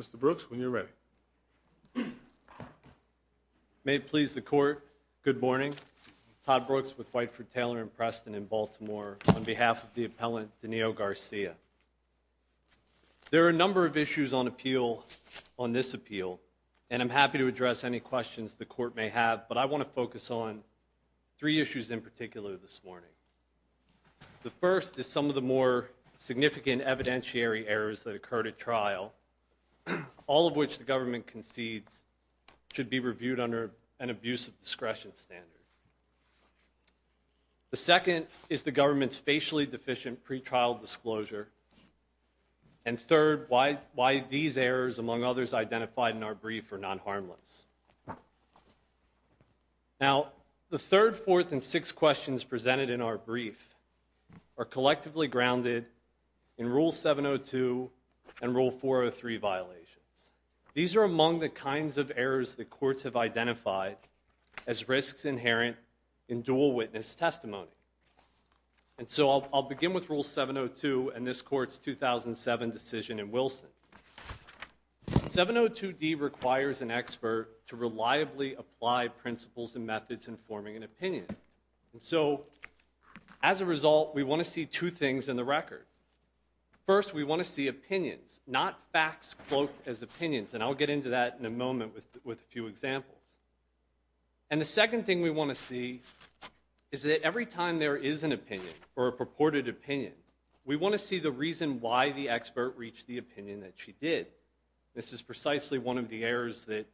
Mr. Brooks, when you're ready. May it please the court, good morning. Todd Brooks with Whiteford Taylor and Preston in Baltimore on behalf of the appellant Danilo Garcia. There are a number of issues on appeal on this appeal and I'm happy to address any questions the court may have but I want to focus on three issues in particular this morning. The first is some of the more significant evidentiary errors that occurred at trial, all of which the government concedes should be reviewed under an abuse of discretion standard. The second is the government's facially deficient pre-trial disclosure and third, why these errors among others identified in our brief are non-harmless. Now, the third, fourth, and sixth questions presented in our brief are collectively grounded in Rule 702 and Rule 403 violations. These are among the kinds of errors the courts have identified as risks inherent in dual witness testimony and so I'll begin with Rule 702 and this court's 2007 decision in Wilson. 702d requires an expert to reliably apply principles and methods in forming an opinion and so as a result we want to see two things in the record. First, we want to see opinions not facts cloaked as opinions and I'll get into that in a moment with with a few examples and the second thing we want to see is that every time there is an opinion or a purported opinion we want to see the reason why the expert reached the opinion that she did. This is precisely one of the errors that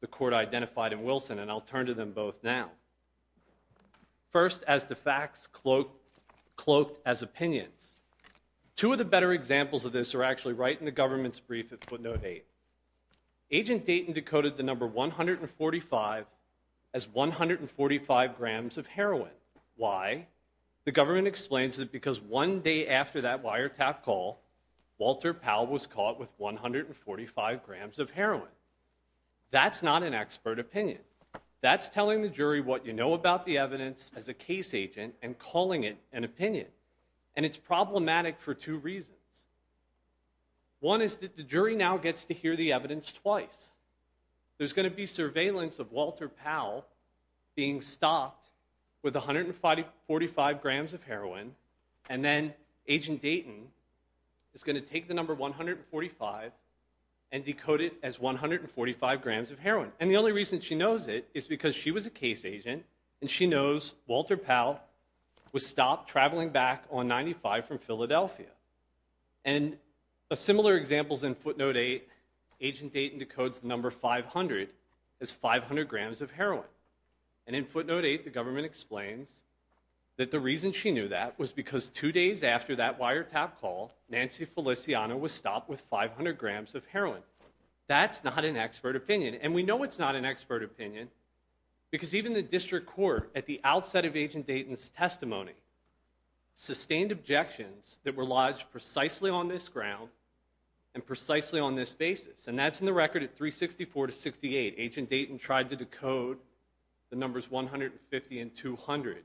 the court identified in Wilson and I'll turn to them both now. First, as the facts cloaked as opinions. Two of the better examples of this are actually right in the government's brief at footnote 8. Agent Dayton decoded the number 145 as 145 grams of heroin. One day after that wiretap call, Walter Powell was caught with 145 grams of heroin. That's not an expert opinion. That's telling the jury what you know about the evidence as a case agent and calling it an opinion and it's problematic for two reasons. One is that the jury now gets to hear the evidence twice. There's going to be surveillance of Walter Powell being stopped with 145 grams of heroin and then agent Dayton is going to take the number 145 and decode it as 145 grams of heroin and the only reason she knows it is because she was a case agent and she knows Walter Powell was stopped traveling back on 95 from Philadelphia and a similar example is in footnote 8. Agent Dayton decodes the number 500 as 500 grams of heroin and in footnote 8 the government explains that the reason she knew that was because two days after that wiretap call, Nancy Feliciano was stopped with 500 grams of heroin. That's not an expert opinion and we know it's not an expert opinion because even the district court at the outset of agent Dayton's testimony sustained objections that were lodged precisely on this ground and precisely on this basis and that's in the record at 364 to 68. Agent Dayton tried to the numbers 150 and 200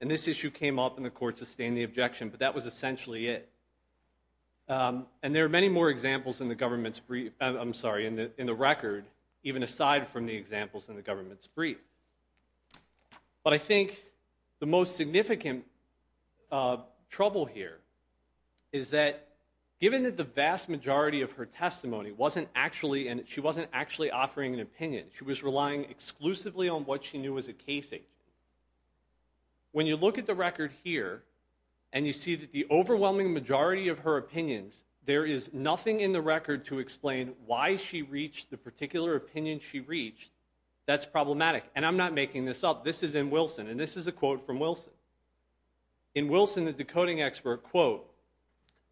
and this issue came up and the court sustained the objection but that was essentially it and there are many more examples in the government's brief I'm sorry in the record even aside from the examples in the government's brief but I think the most significant trouble here is that given that the vast majority of her testimony wasn't actually and she wasn't actually offering an opinion she was relying exclusively on what she knew as a case agent. When you look at the record here and you see that the overwhelming majority of her opinions there is nothing in the record to explain why she reached the particular opinion she reached that's problematic and I'm not making this up this is in Wilson and this is a quote from Wilson. In Wilson the decoding expert quote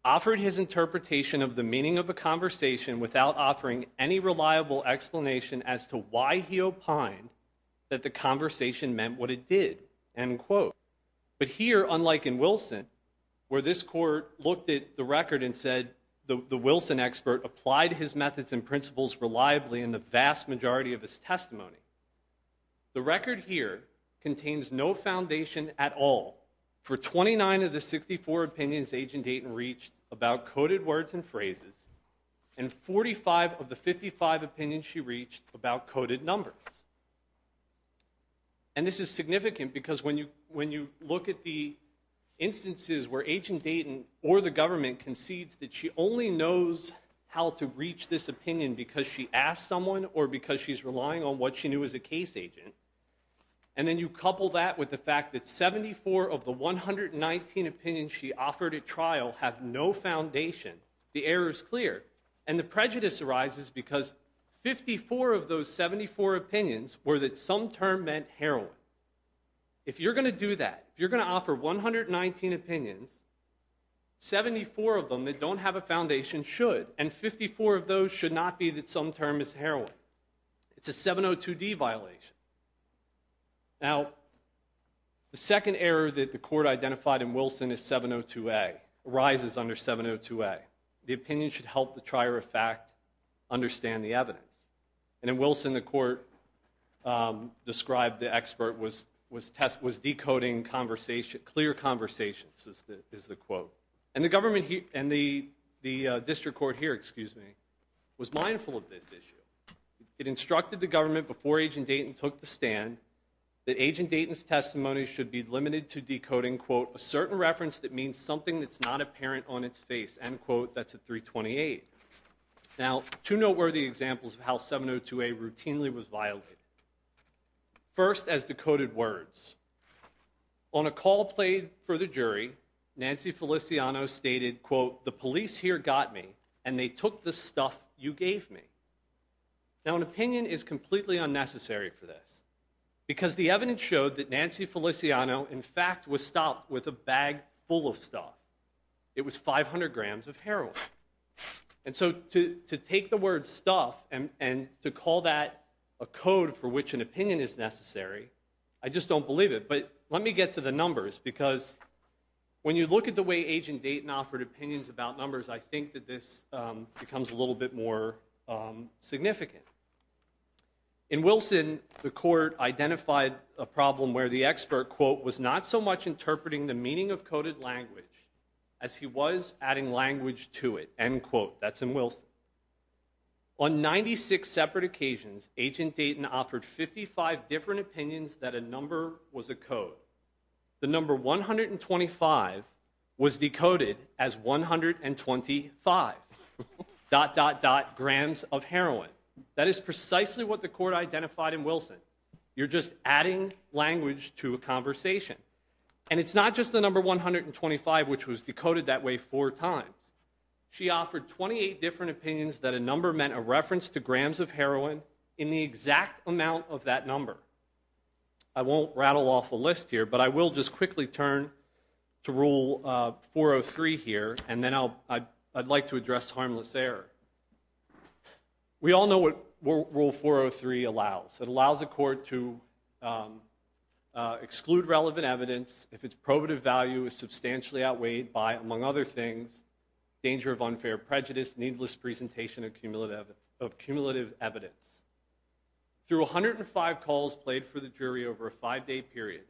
offered his interpretation of the meaning of a conversation without offering any reliable explanation as to why he opined that the conversation meant what it did end quote. But here unlike in Wilson where this court looked at the record and said the Wilson expert applied his methods and principles reliably in the vast majority of his testimony the record here contains no foundation at all for 29 of the 64 opinions agent Dayton reached about coded words and phrases and 45 of the 55 opinions she reached about coded numbers. And this is significant because when you when you look at the instances where agent Dayton or the government concedes that she only knows how to reach this opinion because she asked someone or because she's relying on what she knew as a case agent and then you couple that with the fact that 74 of the 119 opinions she offered at trial have no foundation the error is clear and the prejudice arises because 54 of those 74 opinions were that some term meant heroin. If you're going to do that you're going to offer 119 opinions 74 of them that don't have a foundation should and 54 of those should not be that some term is heroin it's a 702d violation. Now the second error that the court identified in Wilson is 702a arises under 702a the opinion should help the trier of fact understand the evidence and in Wilson the court described the expert was was test was decoding conversation clear conversations is the is the quote and the government here and the the district court here excuse me was mindful of this issue it instructed the government before agent Dayton took the stand that agent Dayton's testimony should be limited to decoding quote a certain reference that means something that's not apparent on its face end quote that's a 328. Now two noteworthy examples of how 702a routinely was violated first as decoded words on a call played for the jury Nancy Feliciano stated quote the police here got me and they took the stuff you gave me now an opinion is completely unnecessary for this because the evidence showed that Nancy Feliciano in fact was stopped with a bag full of stuff it was 500 grams of heroin and so to to take the word stuff and and to call that a code for which an opinion is necessary I just don't believe it but let me get to the numbers because when you look at the way agent Dayton offered opinions about numbers I think that this becomes a little bit more significant in Wilson the court identified a problem where the expert quote was not so much interpreting the meaning of coded language as he was adding language to it end quote that's in Wilson on 96 separate occasions agent Dayton offered 55 different opinions that a number was a code the number 125 was decoded as 125 dot dot dot grams of heroin that is precisely what the court identified in Wilson you're just adding language to a conversation and it's not just the number 125 which was decoded that way four times she offered 28 different opinions that a number meant a reference to grams of heroin in the exact amount of that number I won't rattle off a list here but I will just quickly turn to rule 403 here and then I'll I'd like to address harmless error we all know what rule 403 allows it allows a court to prohibitive value is substantially outweighed by among other things danger of unfair prejudice needless presentation of cumulative of cumulative evidence through 105 calls played for the jury over a five-day period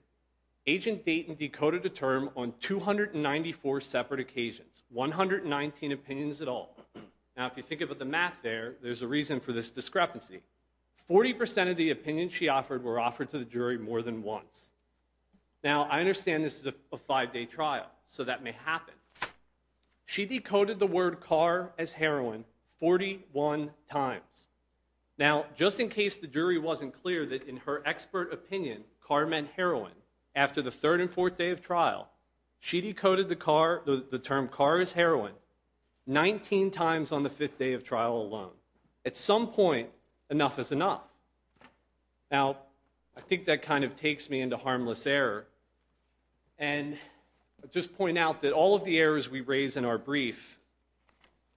agent Dayton decoded a term on 294 separate occasions 119 opinions at all now if you think about the math there there's a reason for this discrepancy 40 percent of the opinions she offered were offered to the jury more than once now I understand this is a five-day trial so that may happen she decoded the word car as heroin 41 times now just in case the jury wasn't clear that in her expert opinion car meant heroin after the third and fourth day of trial she decoded the car the term car is heroin 19 times on the fifth day of trial alone at some point enough is enough now I think that kind of takes me into harmless error and just point out that all of the errors we raise in our brief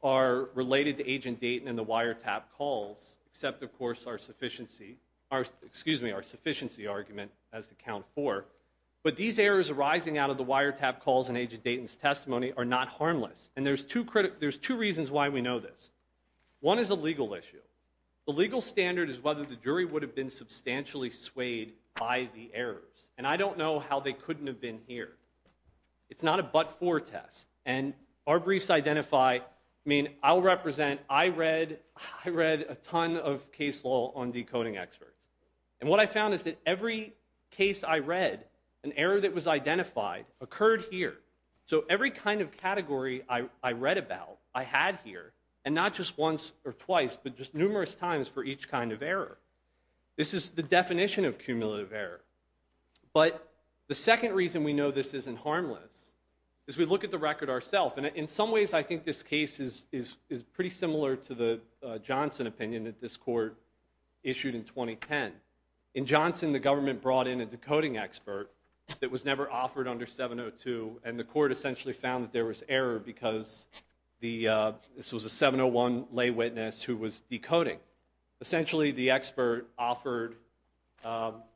are related to agent Dayton and the wiretap calls except of course our sufficiency our excuse me our sufficiency argument has to count for but these errors arising out of the wiretap calls and agent Dayton's testimony are not harmless and there's two critical there's two reasons why we know this one is a legal issue the legal standard is whether the jury would have been substantially swayed by the errors and I don't know how they couldn't have been here it's not a but-for test and our briefs identify I mean I'll represent I read I read a ton of case law on decoding experts and what I found is that every case I read an error that was identified occurred here so every kind of category I read about I had here and not just once or twice but just numerous times for each kind of error this is the definition of cumulative error but the second reason we know this isn't harmless is we look at the record ourself and in some ways I think this case is is is pretty similar to the Johnson opinion that this court issued in 2010 in Johnson the government brought in a decoding expert that was never offered under 702 and the court essentially found that there was error because the this was a 701 lay witness who was decoding essentially the expert offered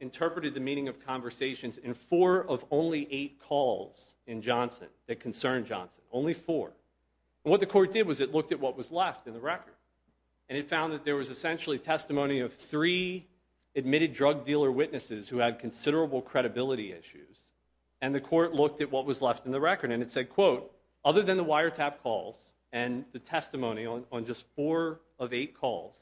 interpreted the meaning of conversations in four of only eight calls in Johnson that concerned Johnson only four what the court did was it looked at what was left in the record and it found that there was essentially testimony of three admitted drug dealer witnesses who had considerable credibility issues and the court looked at what was left in the record and it quote other than the wiretap calls and the testimony on just four of eight calls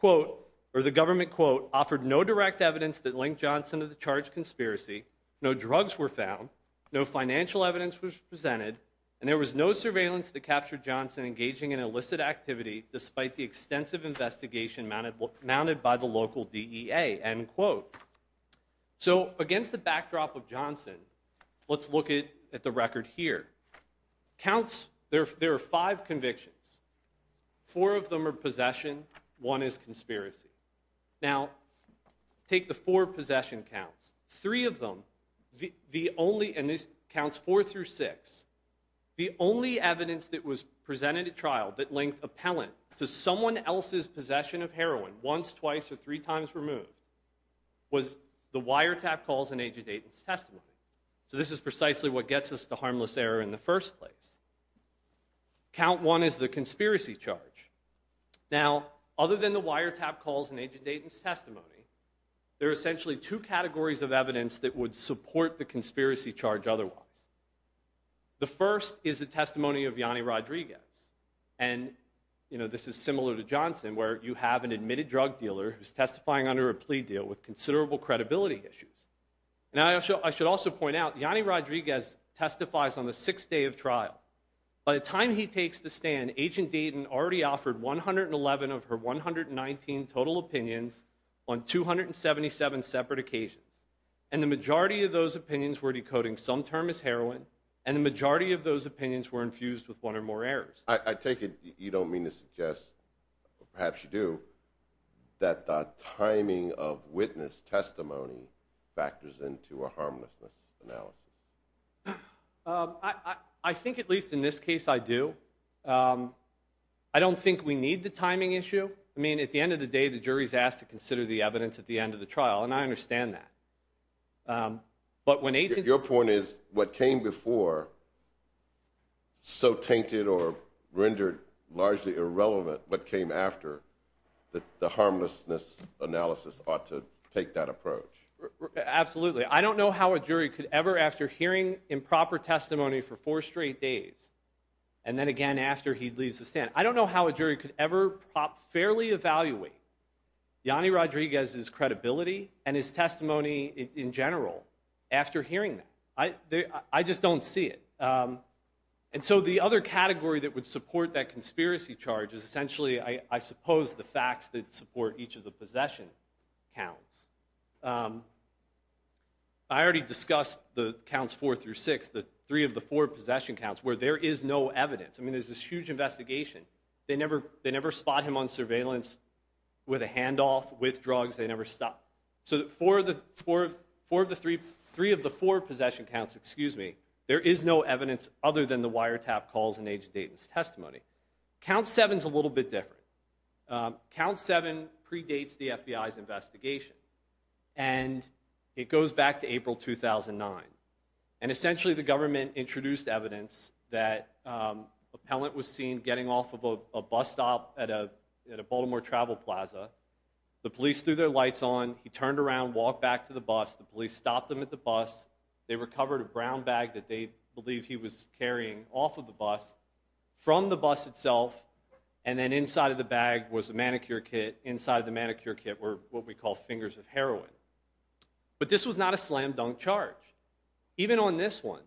quote or the government quote offered no direct evidence that linked Johnson to the charge conspiracy no drugs were found no financial evidence was presented and there was no surveillance that captured Johnson engaging in illicit activity despite the extensive investigation mounted mounted by the local DEA end quote so against the backdrop of Johnson let's look at the record here counts there there are five convictions four of them are possession one is conspiracy now take the four possession counts three of them the the only and this counts four through six the only evidence that was presented at trial that linked appellant to someone else's possession of heroin once twice or three times removed was the wiretap calls in agent Aiden's testimony so this is precisely what gets us to harmless error in the first place count one is the conspiracy charge now other than the wiretap calls in agent Dayton's testimony there are essentially two categories of evidence that would support the conspiracy charge otherwise the first is the testimony of Yanni Rodriguez and you know this is similar to Johnson where you have an admitted drug dealer who's testifying under a plea deal with considerable credibility issues now I should I should also point out Yanni Rodriguez testifies on the sixth day of trial by the time he takes the stand agent Dayton already offered 111 of her 119 total opinions on 277 separate occasions and the majority of those opinions were decoding some term as heroin and the majority of those opinions were infused with one or more errors I take it you don't mean to suggest or perhaps you do that the timing of witness testimony factors into a harmlessness analysis I think at least in this case I do I don't think we need the timing issue I mean at the end of the day the jury's asked to consider the evidence at the end of the trial and I came after that the harmlessness analysis ought to take that approach absolutely I don't know how a jury could ever after hearing improper testimony for four straight days and then again after he leaves the stand I don't know how a jury could ever prop fairly evaluate Yanni Rodriguez's credibility and his testimony in general after hearing that I just don't see it and so the other category that would support that conspiracy charge is essentially I suppose the facts that support each of the possession counts I already discussed the counts four through six the three of the four possession counts where there is no evidence I mean there's this huge investigation they never they never spot him on surveillance with a handoff with drugs they never stopped so that four of the four four of the three three of the four possession counts excuse me there is no evidence other than the wiretap calls in agent Dayton's testimony count seven's a little bit different count seven predates the FBI's investigation and it goes back to April 2009 and essentially the government introduced evidence that um appellant was seen getting off of a bus stop at a at a Baltimore travel plaza the police threw their lights on he turned around walked back to the bus the police stopped him at the bus they recovered a brown bag that they believe he was carrying off of the bus from the bus itself and then inside of the bag was a manicure kit inside of the manicure kit were what we call fingers of heroin but this was not a slam dunk charge even on this one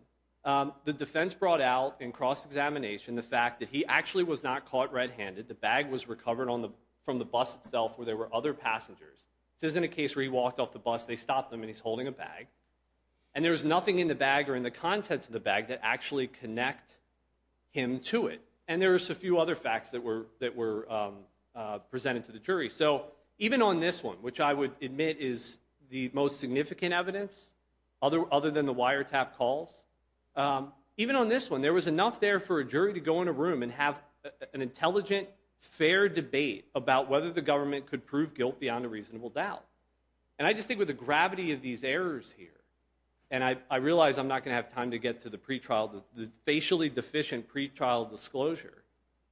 the defense brought out in cross-examination the fact that he actually was not caught red-handed the bag was recovered on the from the bus itself where there were other passengers this isn't a case where he walked off the bus they stopped him and he's holding a bag and there's nothing in the bag or in the contents of the bag that actually connect him to it and there's a few other facts that were that were um uh presented to the jury so even on this one which I would admit is the most significant evidence other other than the wiretap calls um even on this one there was enough there for a jury to go in a room and have an intelligent fair debate about whether the government could prove guilt beyond a reasonable doubt and I just think with the gravity of these errors here and I realize I'm not going to have time to get to the pretrial the facially deficient pretrial disclosure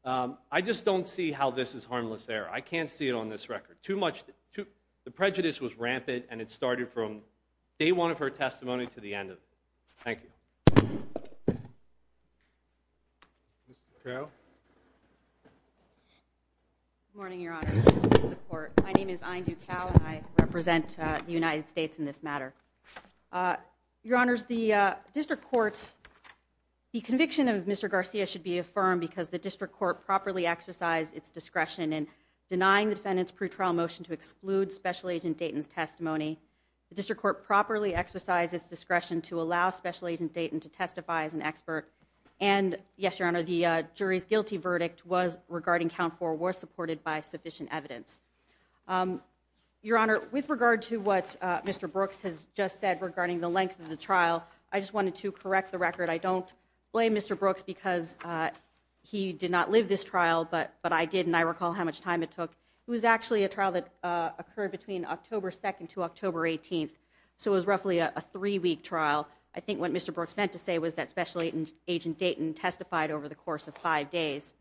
um I just don't see how this is harmless error I can't see it on this record too much too the prejudice was rampant and it could affect attorney general's Supreme Court stand. My name is Ahn Dukau and I represent uh the United States in this matter uh Your Honors, the uh District Court's the conviction of Mr Garcia should be affirmed because the District Court properly exercised its discretion in denying the defendant's pre-trial motion to exclude Special Agent Dayton's testimony the District Court properly exercised its discretion to allow Special Agent Dayton to testify as an expert and yes your honor the uh jury's guilty verdict was regarding count four was supported by sufficient evidence um your honor with regard to what uh Mr Brooks has just said regarding the length of the trial I just wanted to correct the record I don't blame Mr Brooks because uh he did not live this trial but but I did and I recall how much time it took it was actually a trial that uh occurred between October 2nd to October 18th so it was roughly a three-week trial I think what Mr Brooks meant to say was that Special Agent Dayton testified over the course of five days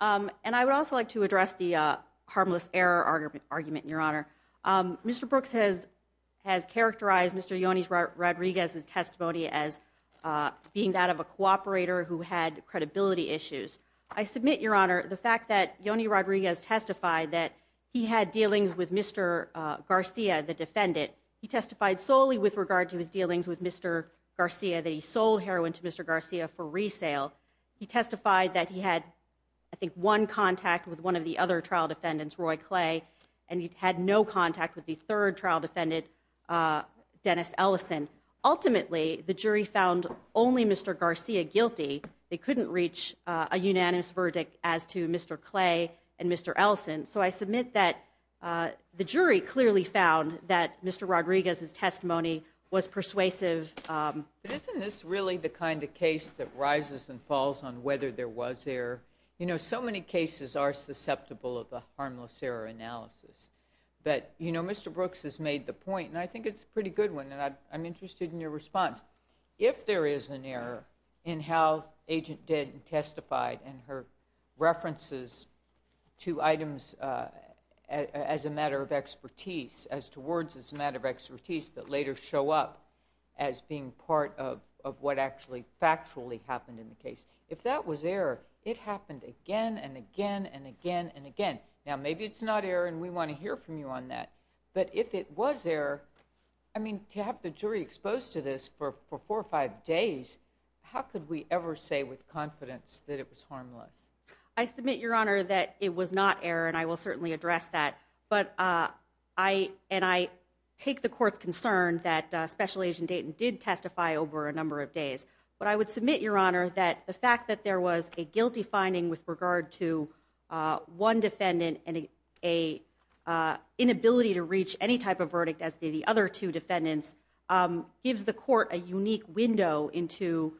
um and I would also like to address the uh harmless error argument argument your honor um Mr Brooks has has characterized Mr Yoni Rodriguez's testimony as being that of a cooperator who had credibility issues I submit your honor the fact that Yoni Rodriguez testified that he had dealings with Mr Garcia the defendant he testified solely with regard to his dealings with Mr Garcia that he sold heroin to Mr Garcia for resale he testified that he had I think one contact with one of the other trial defendants Roy Clay and he had no contact with the third trial defendant uh Dennis Ellison ultimately the jury found only Mr Garcia guilty they couldn't reach a unanimous verdict as to Mr Clay and Mr Ellison so I submit that the jury clearly found that Mr Rodriguez's testimony was persuasive um but isn't this really the kind of case that rises and falls on whether there was error you know so many cases are susceptible of the harmless error analysis but you know Mr Brooks has made the point and I think it's a pretty good one and I'm interested in your response if there is an error in how agent Denton testified and her references to items uh as a matter of expertise as to words as a matter of expertise that later show up as being part of of what actually factually happened in the case if that was error it happened again and again and again and again now maybe it's not error and we want to hear from you on that but if it was there I mean to have the jury exposed to for four or five days how could we ever say with confidence that it was harmless I submit your honor that it was not error and I will certainly address that but uh I and I take the court's concern that uh special agent Dayton did testify over a number of days but I would submit your honor that the fact that there was a guilty finding with regard to uh one defendant and a inability to reach any type of verdict as the other two defendants gives the court a unique window into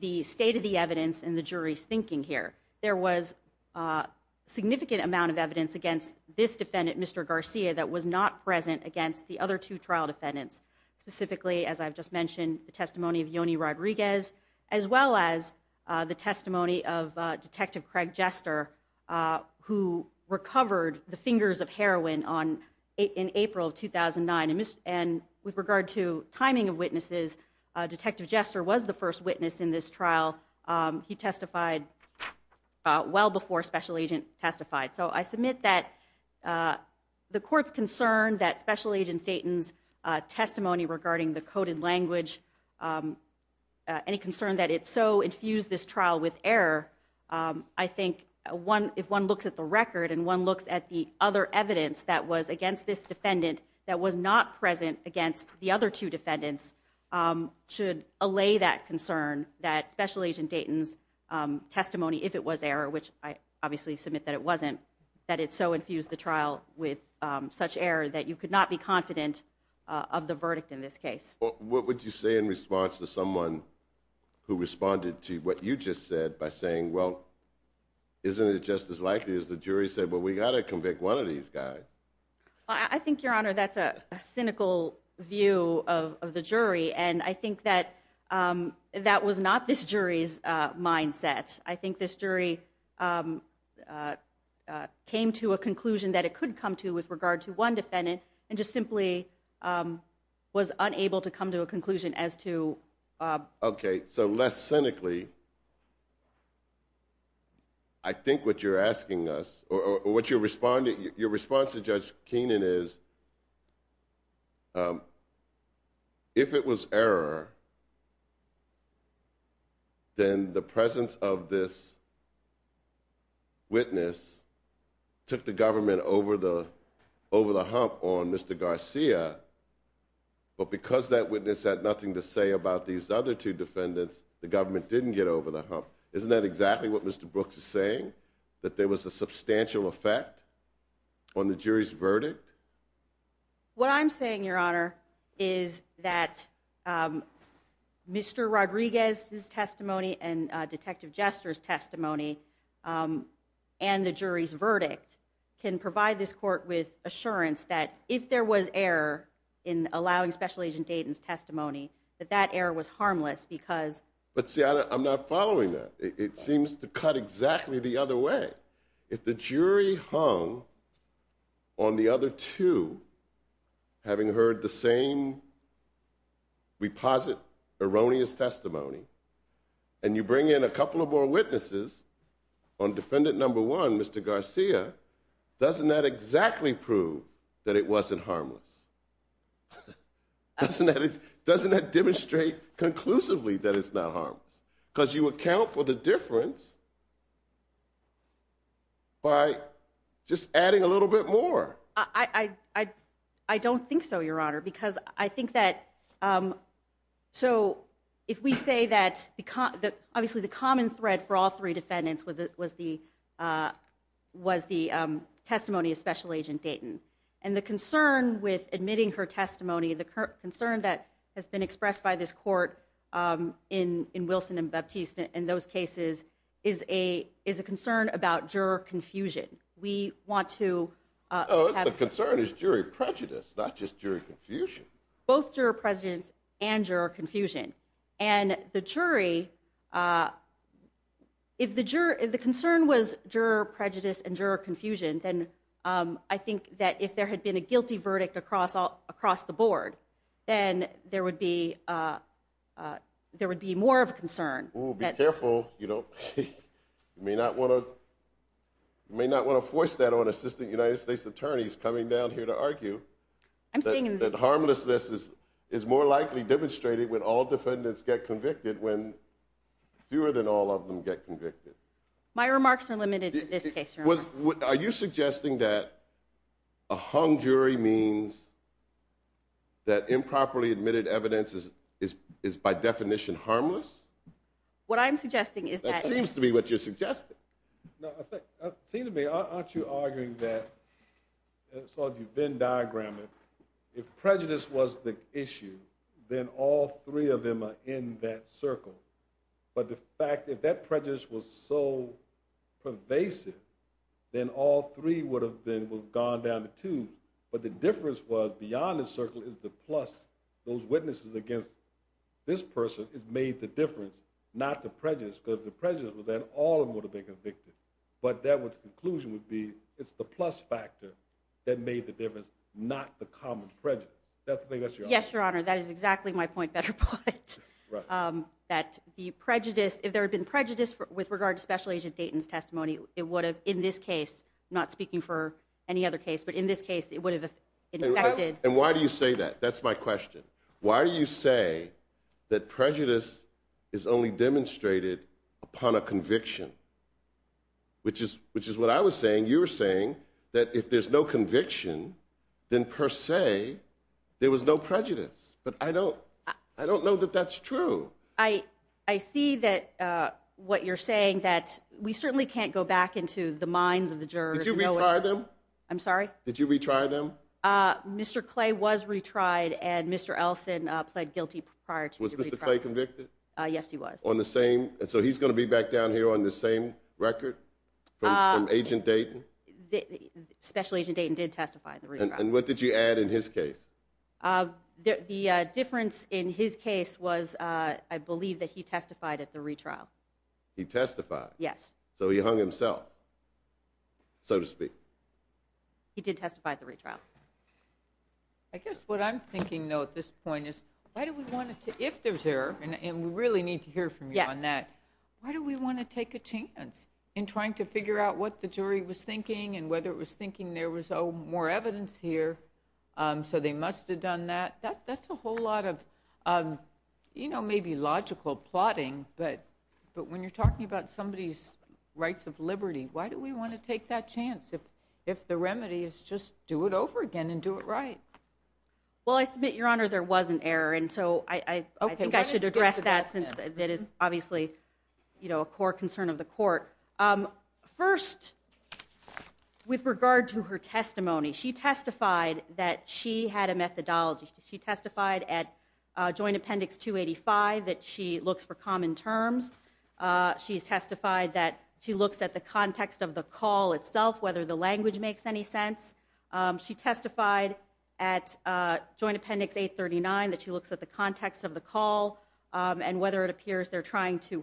the state of the evidence and the jury's thinking here there was a significant amount of evidence against this defendant Mr Garcia that was not present against the other two trial defendants specifically as I've just mentioned the testimony of Yoni Rodriguez as well as the testimony of Detective Craig Jester who recovered the fingers of heroin on in April of 2009 and with regard to timing of witnesses Detective Jester was the first witness in this trial he testified well before special agent testified so I submit that the court's concern that special agent Dayton's testimony regarding the coded language any concern that it's so infused this trial with error I think one if one looks at the record and one looks at the other evidence that was against this defendant that was not present against the other two defendants should allay that concern that special agent Dayton's testimony if it was error which I obviously submit that it wasn't that it's so infused the trial with such error that you could not be confident of the verdict in this case what would you say in response to someone who responded to what you just said by saying well isn't it just as likely as the jury said well we got to convict one of these guys I think your honor that's a cynical view of the jury and I think that that was not this jury's mindset I think this jury came to a conclusion that it could come to with regard to one defendant and just simply was unable to come to a conclusion as to okay so less cynically I think what you're asking us or what you're responding your response to Judge Keenan is if it was error then the presence of this witness took the government over the over the hump on Mr. Garcia but because that witness had nothing to say about these other two defendants the government didn't get over the hump isn't that exactly what Mr. Brooks is saying that there was a substantial effect on the jury's verdict what I'm saying your honor is that Mr. Rodriguez's testimony and Detective Jester's testimony and the jury's verdict can provide this court with assurance that if there was error in allowing Special Agent Dayton's testimony that that error was harmless because but see I'm not following that it seems to cut exactly the other way if the jury hung on the other two having heard the same reposit erroneous testimony and you bring in a couple of more witnesses on defendant number one Mr. Garcia doesn't that exactly prove that it wasn't harmless doesn't that it doesn't that demonstrate conclusively that it's not harmless because you account for the difference by just adding a little bit more I I don't think so your honor because I think that so if we say that because that obviously the common thread for all three defendants with it was the was the testimony of Special Agent Dayton and the concern with admitting her testimony the concern that has been expressed by this court in in Wilson and Baptiste in those cases is a is a concern about juror confusion we want to have the concern is jury prejudice not just jury confusion both juror presidents and juror confusion and the jury uh if the juror if the concern was juror prejudice and juror confusion then um I think that if there had been a guilty verdict across all across the board then there would be uh uh there would be more of a concern oh be careful you don't you may not want to you may not want to force that on assistant United States attorneys coming down here to argue I'm saying that harmlessness is is more likely demonstrated when all defendants get convicted when fewer than all of them get convicted my remarks are limited in this case are you suggesting that a hung jury means that improperly admitted evidence is is is by definition harmless what I'm suggesting is that seems to be what you're suggesting no I think it seemed to me aren't you arguing that it's all you've been diagramming if prejudice was the issue then all three of them are in that circle but the fact if that prejudice was so pervasive then all three would have been would have gone down to two but the difference was beyond the circle is the plus those witnesses against this person has made the difference not the prejudice because the prejudice was that all of them would have been convicted but that was the conclusion would be it's the plus factor that made the difference not the common prejudice that's the biggest yes your honor that is exactly my point better point um that the prejudice if there had been prejudice with regard to special agent Dayton's testimony it would have in this case not speaking for any other case but in this it would have affected and why do you say that that's my question why do you say that prejudice is only demonstrated upon a conviction which is which is what I was saying you were saying that if there's no conviction then per se there was no prejudice but I don't I don't know that that's true I I see that uh what you're saying that we certainly can't go back into the minds of the jurors did you retry them I'm sorry did you retry them uh Mr. Clay was retried and Mr. Elson uh pled guilty prior to Mr. Clay convicted uh yes he was on the same and so he's going to be back down here on the same record from agent Dayton the special agent Dayton did testify and what did you add in his case uh the uh difference in his case was uh I believe that he testified at he testified yes so he hung himself so to speak he did testify at the retrial I guess what I'm thinking though at this point is why do we want it to if there's error and we really need to hear from you on that why do we want to take a chance in trying to figure out what the jury was thinking and whether it was thinking there was oh more evidence here um so they must have done that that's a whole lot of um you know maybe logical plotting but but when you're talking about somebody's rights of liberty why do we want to take that chance if if the remedy is just do it over again and do it right well I submit your honor there was an error and so I I think I should address that since that is obviously you know a core concern of the court um so first with regard to her testimony she testified that she had a methodology she testified at joint appendix 285 that she looks for common terms uh she's testified that she looks at the context of the call itself whether the language makes any sense um she testified at uh joint appendix 839 that she looks at the context of the call um and whether it appears they're trying to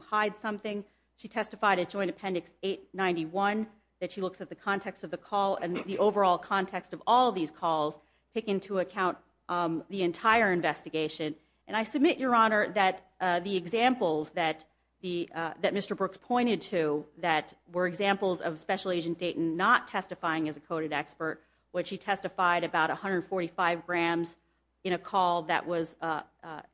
that she looks at the context of the call and the overall context of all these calls take into account um the entire investigation and I submit your honor that uh the examples that the uh that Mr. Brooks pointed to that were examples of special agent Dayton not testifying as a coded expert when she testified about 145 grams in a call that was uh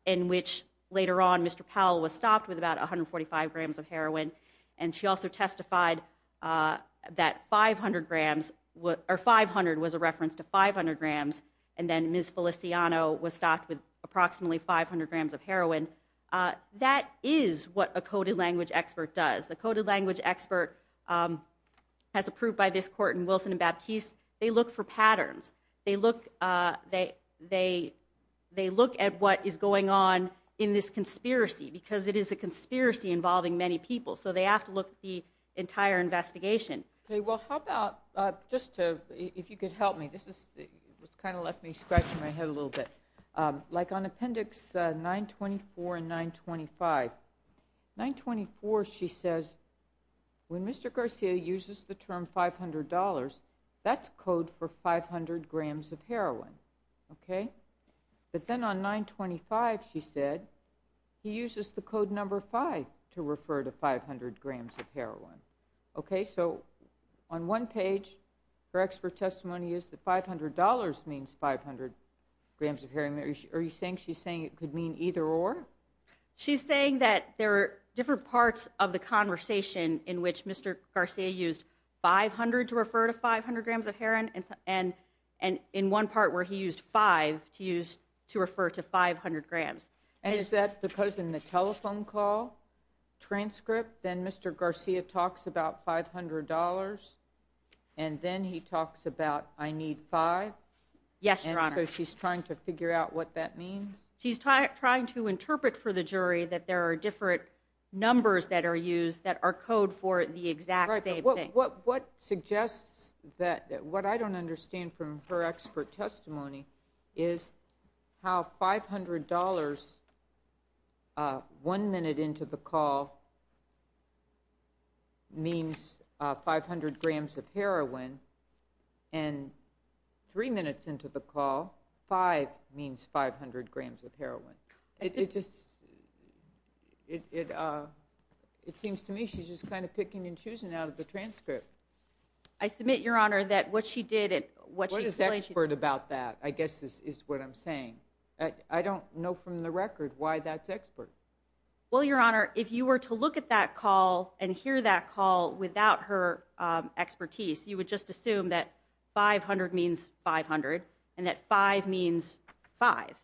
in which later on Mr. Powell was stopped with about 145 grams of heroin and she also testified uh that 500 grams what or 500 was a reference to 500 grams and then Ms. Feliciano was stopped with approximately 500 grams of heroin uh that is what a coded language expert does the coded language expert um has approved by this court in Wilson and Baptiste they look for patterns they look uh they they look at what is going on in this conspiracy because it is a conspiracy involving many people so they have to look at the entire investigation okay well how about uh just to if you could help me this is what's kind of left me scratching my head a little bit um like on appendix uh 924 and 925 924 she says when Mr. Garcia uses the term 500 that's code for 500 grams of heroin okay but then on 925 she said he uses the code number five to refer to 500 grams of heroin okay so on one page her expert testimony is the 500 means 500 grams of heroin are you saying she's saying it could mean either or she's saying that there are different parts of the conversation in which Mr. Garcia used 500 to refer to 500 grams of heroin and and and in one part where he used five to use to refer to 500 grams and is that because in the telephone call transcript then Mr. Garcia talks about 500 and then he talks about I need five yes so she's trying to figure out what that means she's trying to interpret for the jury that there are different numbers that are used that are code for the exact same thing what what suggests that what I don't understand from her expert testimony is how five hundred dollars uh one minute into the call means uh 500 grams of heroin and three minutes into the call five means 500 grams of heroin it just it uh it seems to me she's just kind of picking and choosing out of the transcript I submit your honor that what she did and what is expert about that I guess this is what I'm saying I don't know from the record why that's expert well your honor if you were to look at that call and hear that call without her um expertise you would just assume that 500 means 500 and that five means five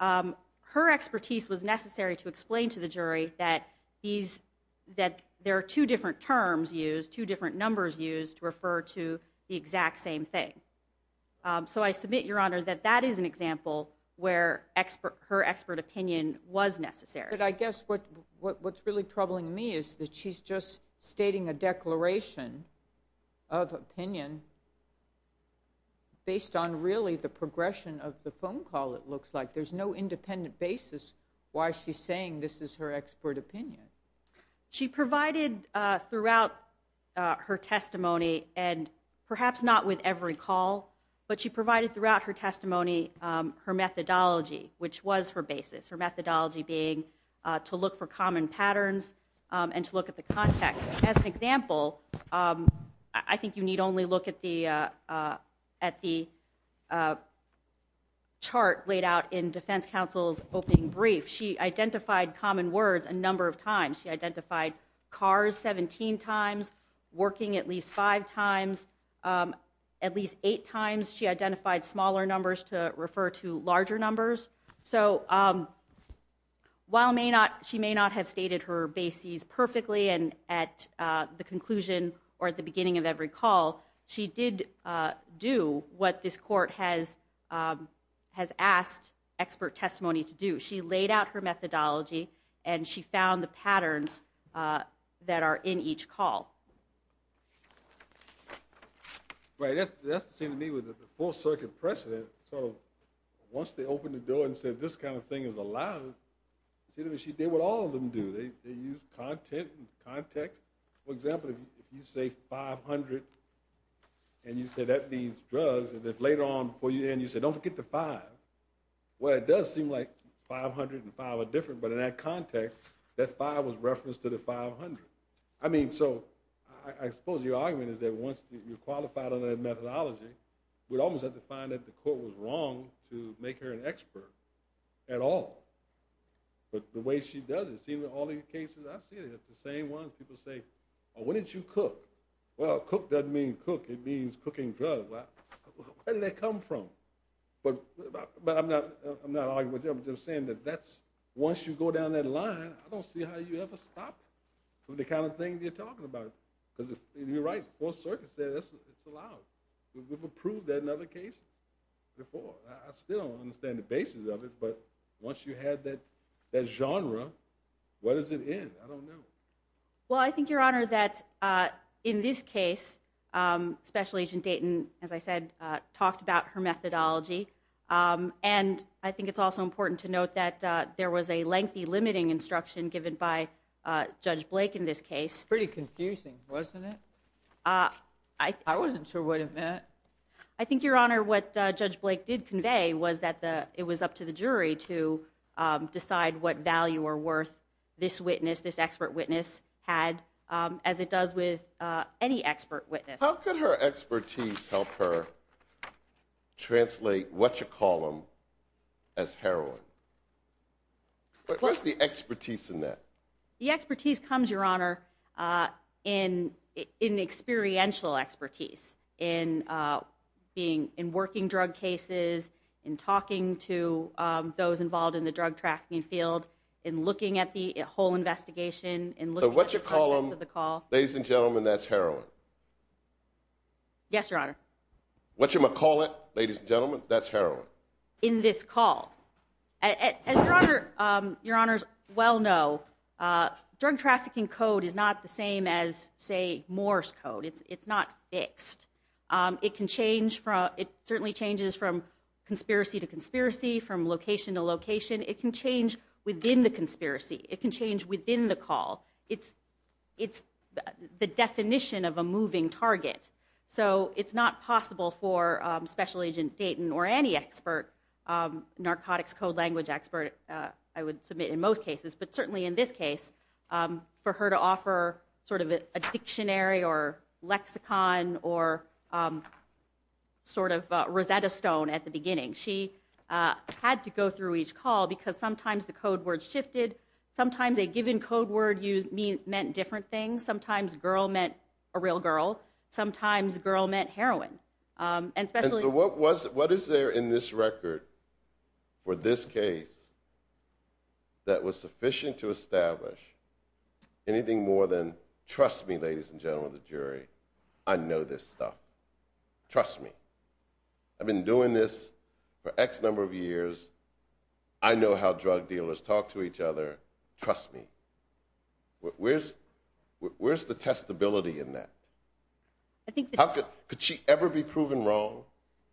um her expertise was necessary to explain to the jury that these that there are two different terms used two different numbers used to refer to the exact same thing so I submit your honor that that is an example where expert her expert opinion was necessary but I guess what what's really troubling me is that she's just stating a declaration of opinion based on really the progression of the phone call it looks like there's no independent basis why she's saying this is her expert opinion she provided uh throughout her testimony and perhaps not with every call but she provided throughout her testimony um her methodology which was her basis her methodology being uh to look for common patterns um and to look at the context as an example um I think you need only look at the uh uh at the uh chart laid out in defense counsel's opening brief she identified common words a number of times she identified cars 17 times working at least five times um at least eight times she identified smaller numbers to refer to larger numbers so um while may not she may not have stated her bases perfectly and at uh the conclusion or at the beginning of every call she did uh do what this court has um has asked expert testimony to do she laid out her methodology and she found the patterns uh that are in each call right that's that's the same to me with the full circuit precedent so once they opened the door and said this kind of thing is allowed she did what all of them do they they use content and and then later on before you end you said don't forget the five well it does seem like 500 and five are different but in that context that five was referenced to the 500 I mean so I suppose your argument is that once you're qualified on that methodology we'd almost have to find that the court was wrong to make her an expert at all but the way she does it see all these cases I see it it's the same one people say oh when did you cook well cook doesn't mean cook it means cooking drugs well where did that come from but but I'm not I'm not arguing with you I'm just saying that that's once you go down that line I don't see how you ever stop from the kind of thing you're talking about because you're right full circuit says it's allowed we've approved that another case before I still don't understand the basis of it but once you had that that genre what does it end I don't know well I think your honor that uh in this case special agent Dayton as I said talked about her methodology and I think it's also important to note that there was a lengthy limiting instruction given by Judge Blake in this case pretty confusing wasn't it I wasn't sure what it meant I think your honor what Judge Blake did convey was that the it was up to the jury to decide what value or worth this witness this any expert witness how could her expertise help her translate what you call them as heroin but where's the expertise in that the expertise comes your honor uh in in experiential expertise in uh being in working drug cases in talking to um those involved in the drug tracking field in looking at the whole investigation and looking what you call them the call ladies and gentlemen that's heroin yes your honor what you're gonna call it ladies and gentlemen that's heroin in this call and your honor um your honors well no uh drug trafficking code is not the same as say moore's code it's it's not fixed um it can change from it certainly changes from conspiracy to conspiracy from location to location it can change within the conspiracy it can change within the call it's it's the definition of a moving target so it's not possible for special agent Dayton or any expert um narcotics code language expert uh I would submit in most cases but certainly in this case um for her to offer sort of a dictionary or lexicon or um sort of Rosetta Stone at the beginning she uh had to go through each call because sometimes the code words shifted sometimes a given code word used mean meant different things sometimes girl meant a real girl sometimes girl meant heroin um and especially what was what is there in this record for this case that was sufficient to establish anything more than trust me ladies and gentlemen the jury I know this stuff trust me I've been doing this for x number of years I know how drug dealers talk to each other trust me where's where's the testability in that I think how could could she ever be proven wrong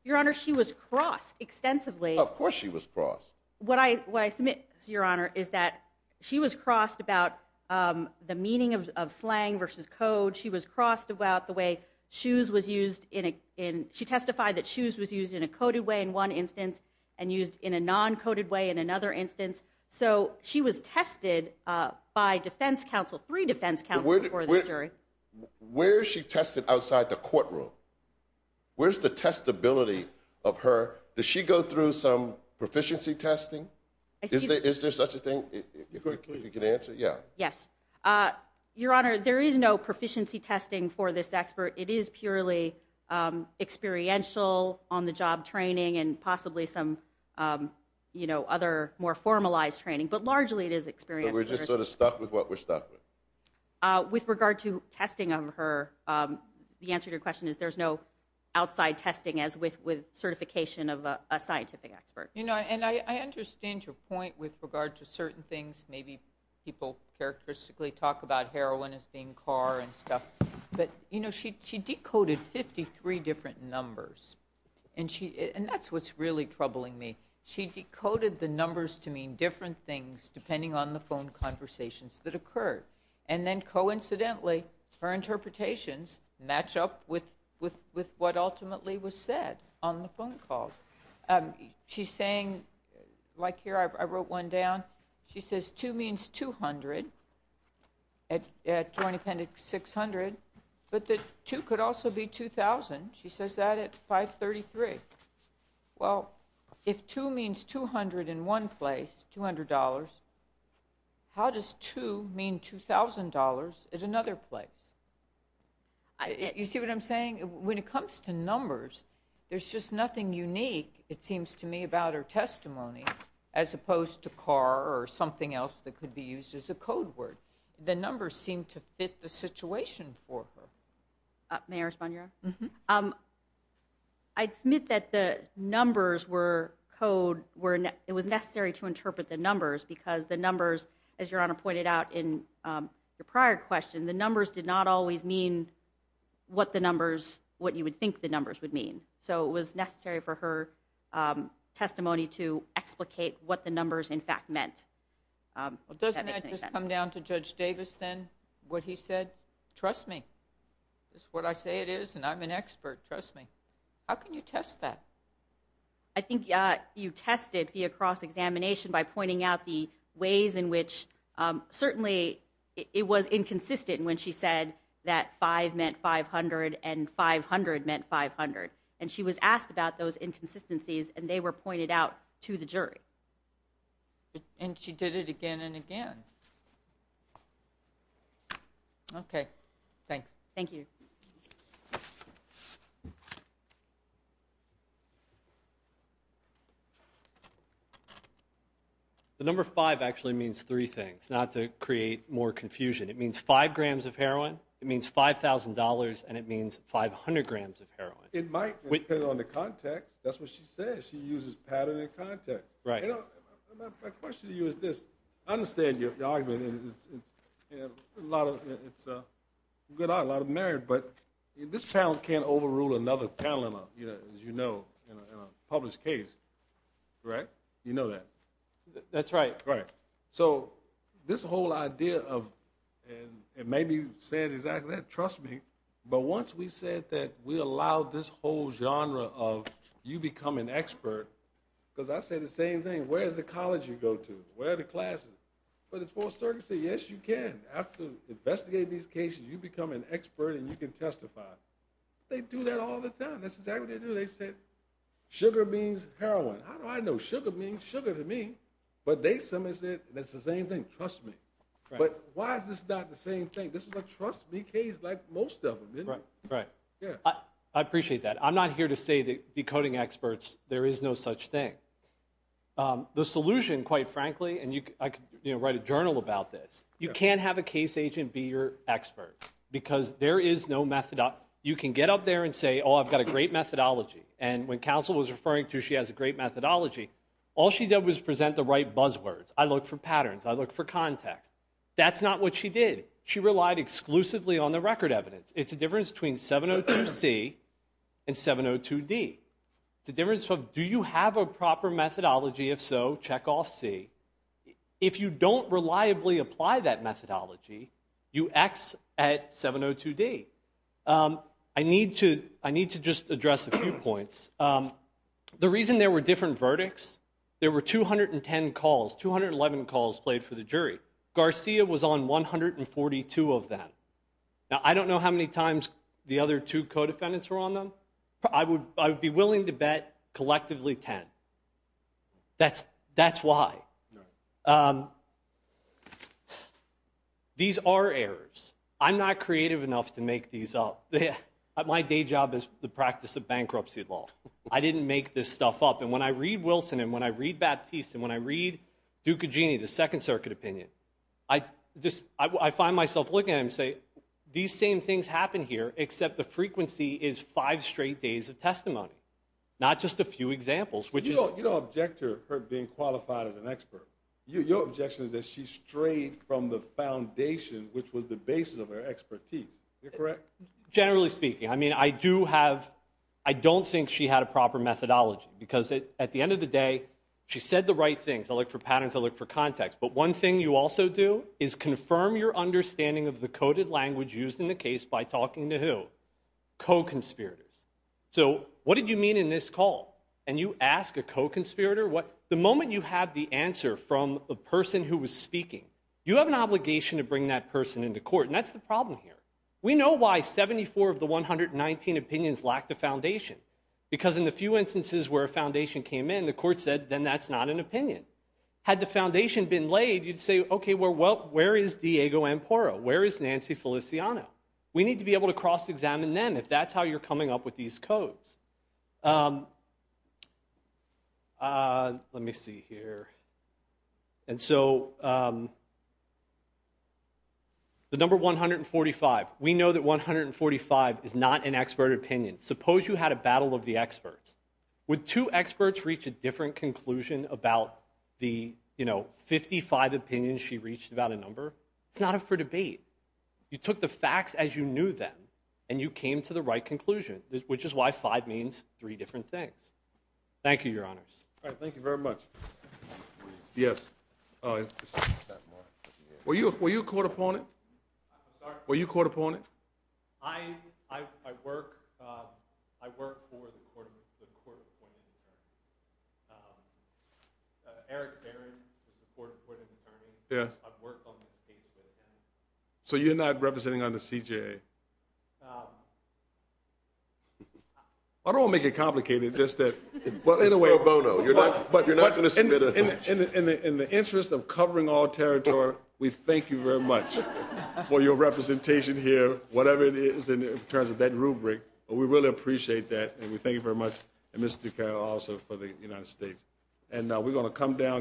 your honor she was crossed extensively of course she was crossed what I what I submit your honor is that she was crossed about um the meaning of slang versus code she was crossed about the way shoes was used in a in she testified that shoes was used in a coded way in one instance and used in a non-coded way in another instance so she was tested uh by defense counsel three defense counsel for this jury where is she tested outside the courtroom where's the testability of her does she go through some proficiency testing is there is there such a thing if you can answer yeah yes uh your honor there is no proficiency testing for this expert it is purely um experiential on the job training and possibly some um you know other more formalized training but largely it is experienced we're just sort of stuck with what we're stuck with uh with regard to testing of her um the answer to your question is there's no outside testing as with with certification of a scientific expert you know and I understand your point with regard to certain things maybe people characteristically talk about heroin as car and stuff but you know she she decoded 53 different numbers and she and that's what's really troubling me she decoded the numbers to mean different things depending on the phone conversations that occurred and then coincidentally her interpretations match up with with with what ultimately was said on the phone calls um she's saying like here I wrote one down she says two means 200 at at joint appendix 600 but that two could also be 2000 she says that at 533 well if two means 200 in one place 200 how does two mean 2000 at another place you see what I'm saying when it comes to numbers there's just nothing unique it seems to me about testimony as opposed to car or something else that could be used as a code word the numbers seem to fit the situation for her may I respond your um I'd submit that the numbers were code were it was necessary to interpret the numbers because the numbers as your honor pointed out in your prior question the numbers did not always mean what the numbers what you would think the numbers would mean so it was necessary for her testimony to explicate what the numbers in fact meant um well doesn't that just come down to Judge Davis then what he said trust me this is what I say it is and I'm an expert trust me how can you test that I think uh you tested the across examination by pointing out the ways in which um certainly it was inconsistent when she said that five meant 500 and 500 meant 500 and she was asked about those inconsistencies and they were pointed out to the jury and she did it again and again okay thanks thank you the number five actually means three things not to create more confusion it means five grams of it might depend on the context that's what she says she uses pattern and context right my question to you is this I understand your argument it's a lot of it's a good a lot of merit but this panel can't overrule another panel in a you know as you know in a published case right you know that that's right right so this whole idea of and it may be said exactly that but once we said that we allowed this whole genre of you become an expert because I say the same thing where's the college you go to where the classes but it's for certain say yes you can after investigating these cases you become an expert and you can testify they do that all the time that's exactly what they do they said sugar means heroin how do I know sugar means sugar to me but they somebody said that's the same thing trust me but why is this not the same thing this is a trust me case like most of them right right yeah I appreciate that I'm not here to say that decoding experts there is no such thing the solution quite frankly and you I could you know write a journal about this you can't have a case agent be your expert because there is no method up you can get up there and say oh I've got a great methodology and when counsel was referring to she has a great methodology all she did was present the right buzzwords I look for patterns I look for context that's not what she did she relied exclusively on the record evidence it's a difference between 702c and 702d the difference of do you have a proper methodology if so check off c if you don't reliably apply that methodology you x at 702d I need to I need to just address a few points the reason there were different verdicts there were 210 calls 211 calls played for the case Garcia was on 142 of them now I don't know how many times the other two co-defendants were on them I would I would be willing to bet collectively 10 that's that's why these are errors I'm not creative enough to make these up my day job is the practice of bankruptcy law I didn't make this stuff up and when I read Wilson and when I read Baptiste and when I read Ducagini the second circuit opinion I just I find myself looking at him say these same things happen here except the frequency is five straight days of testimony not just a few examples which is you don't object to her being qualified as an expert your objection is that she strayed from the foundation which was the basis of her expertise you're correct generally speaking I mean I do have I don't think she had a proper methodology because at the end of the day she said the right things I look for patterns I look for context but one thing you also do is confirm your understanding of the coded language used in the case by talking to who co-conspirators so what did you mean in this call and you ask a co-conspirator what the moment you have the answer from the person who was speaking you have an obligation to bring that person into court and that's the problem here we know why 74 of the 119 opinions lack the foundation because in a few instances where a foundation came in the court said then that's not an opinion had the foundation been laid you'd say okay well where is Diego Amparo where is Nancy Feliciano we need to be able to cross-examine them if that's how you're coming up with these codes let me see here and so the number 145 we know that 145 is not an expert opinion suppose you had a battle of the experts with two experts reach a different conclusion about the you know 55 opinions she reached about a number it's not up for debate you took the facts as you knew them and you came to the right conclusion which is why five means three different things thank you your honors all right thank you very much yes uh were you were you caught upon it i'm sorry were you caught upon it i i i work i work for the court the court eric barron is the court supporting attorney yeah i've worked on the cases so you're not representing on the cja um i don't want to make it complicated just that well in a way bono you're not but you're not going to submit in the interest of covering all territory we thank you very much for your representation here whatever it is in terms of that rubric we really appreciate that and we thank you very much and mr ducato also for the united states and we're going to come down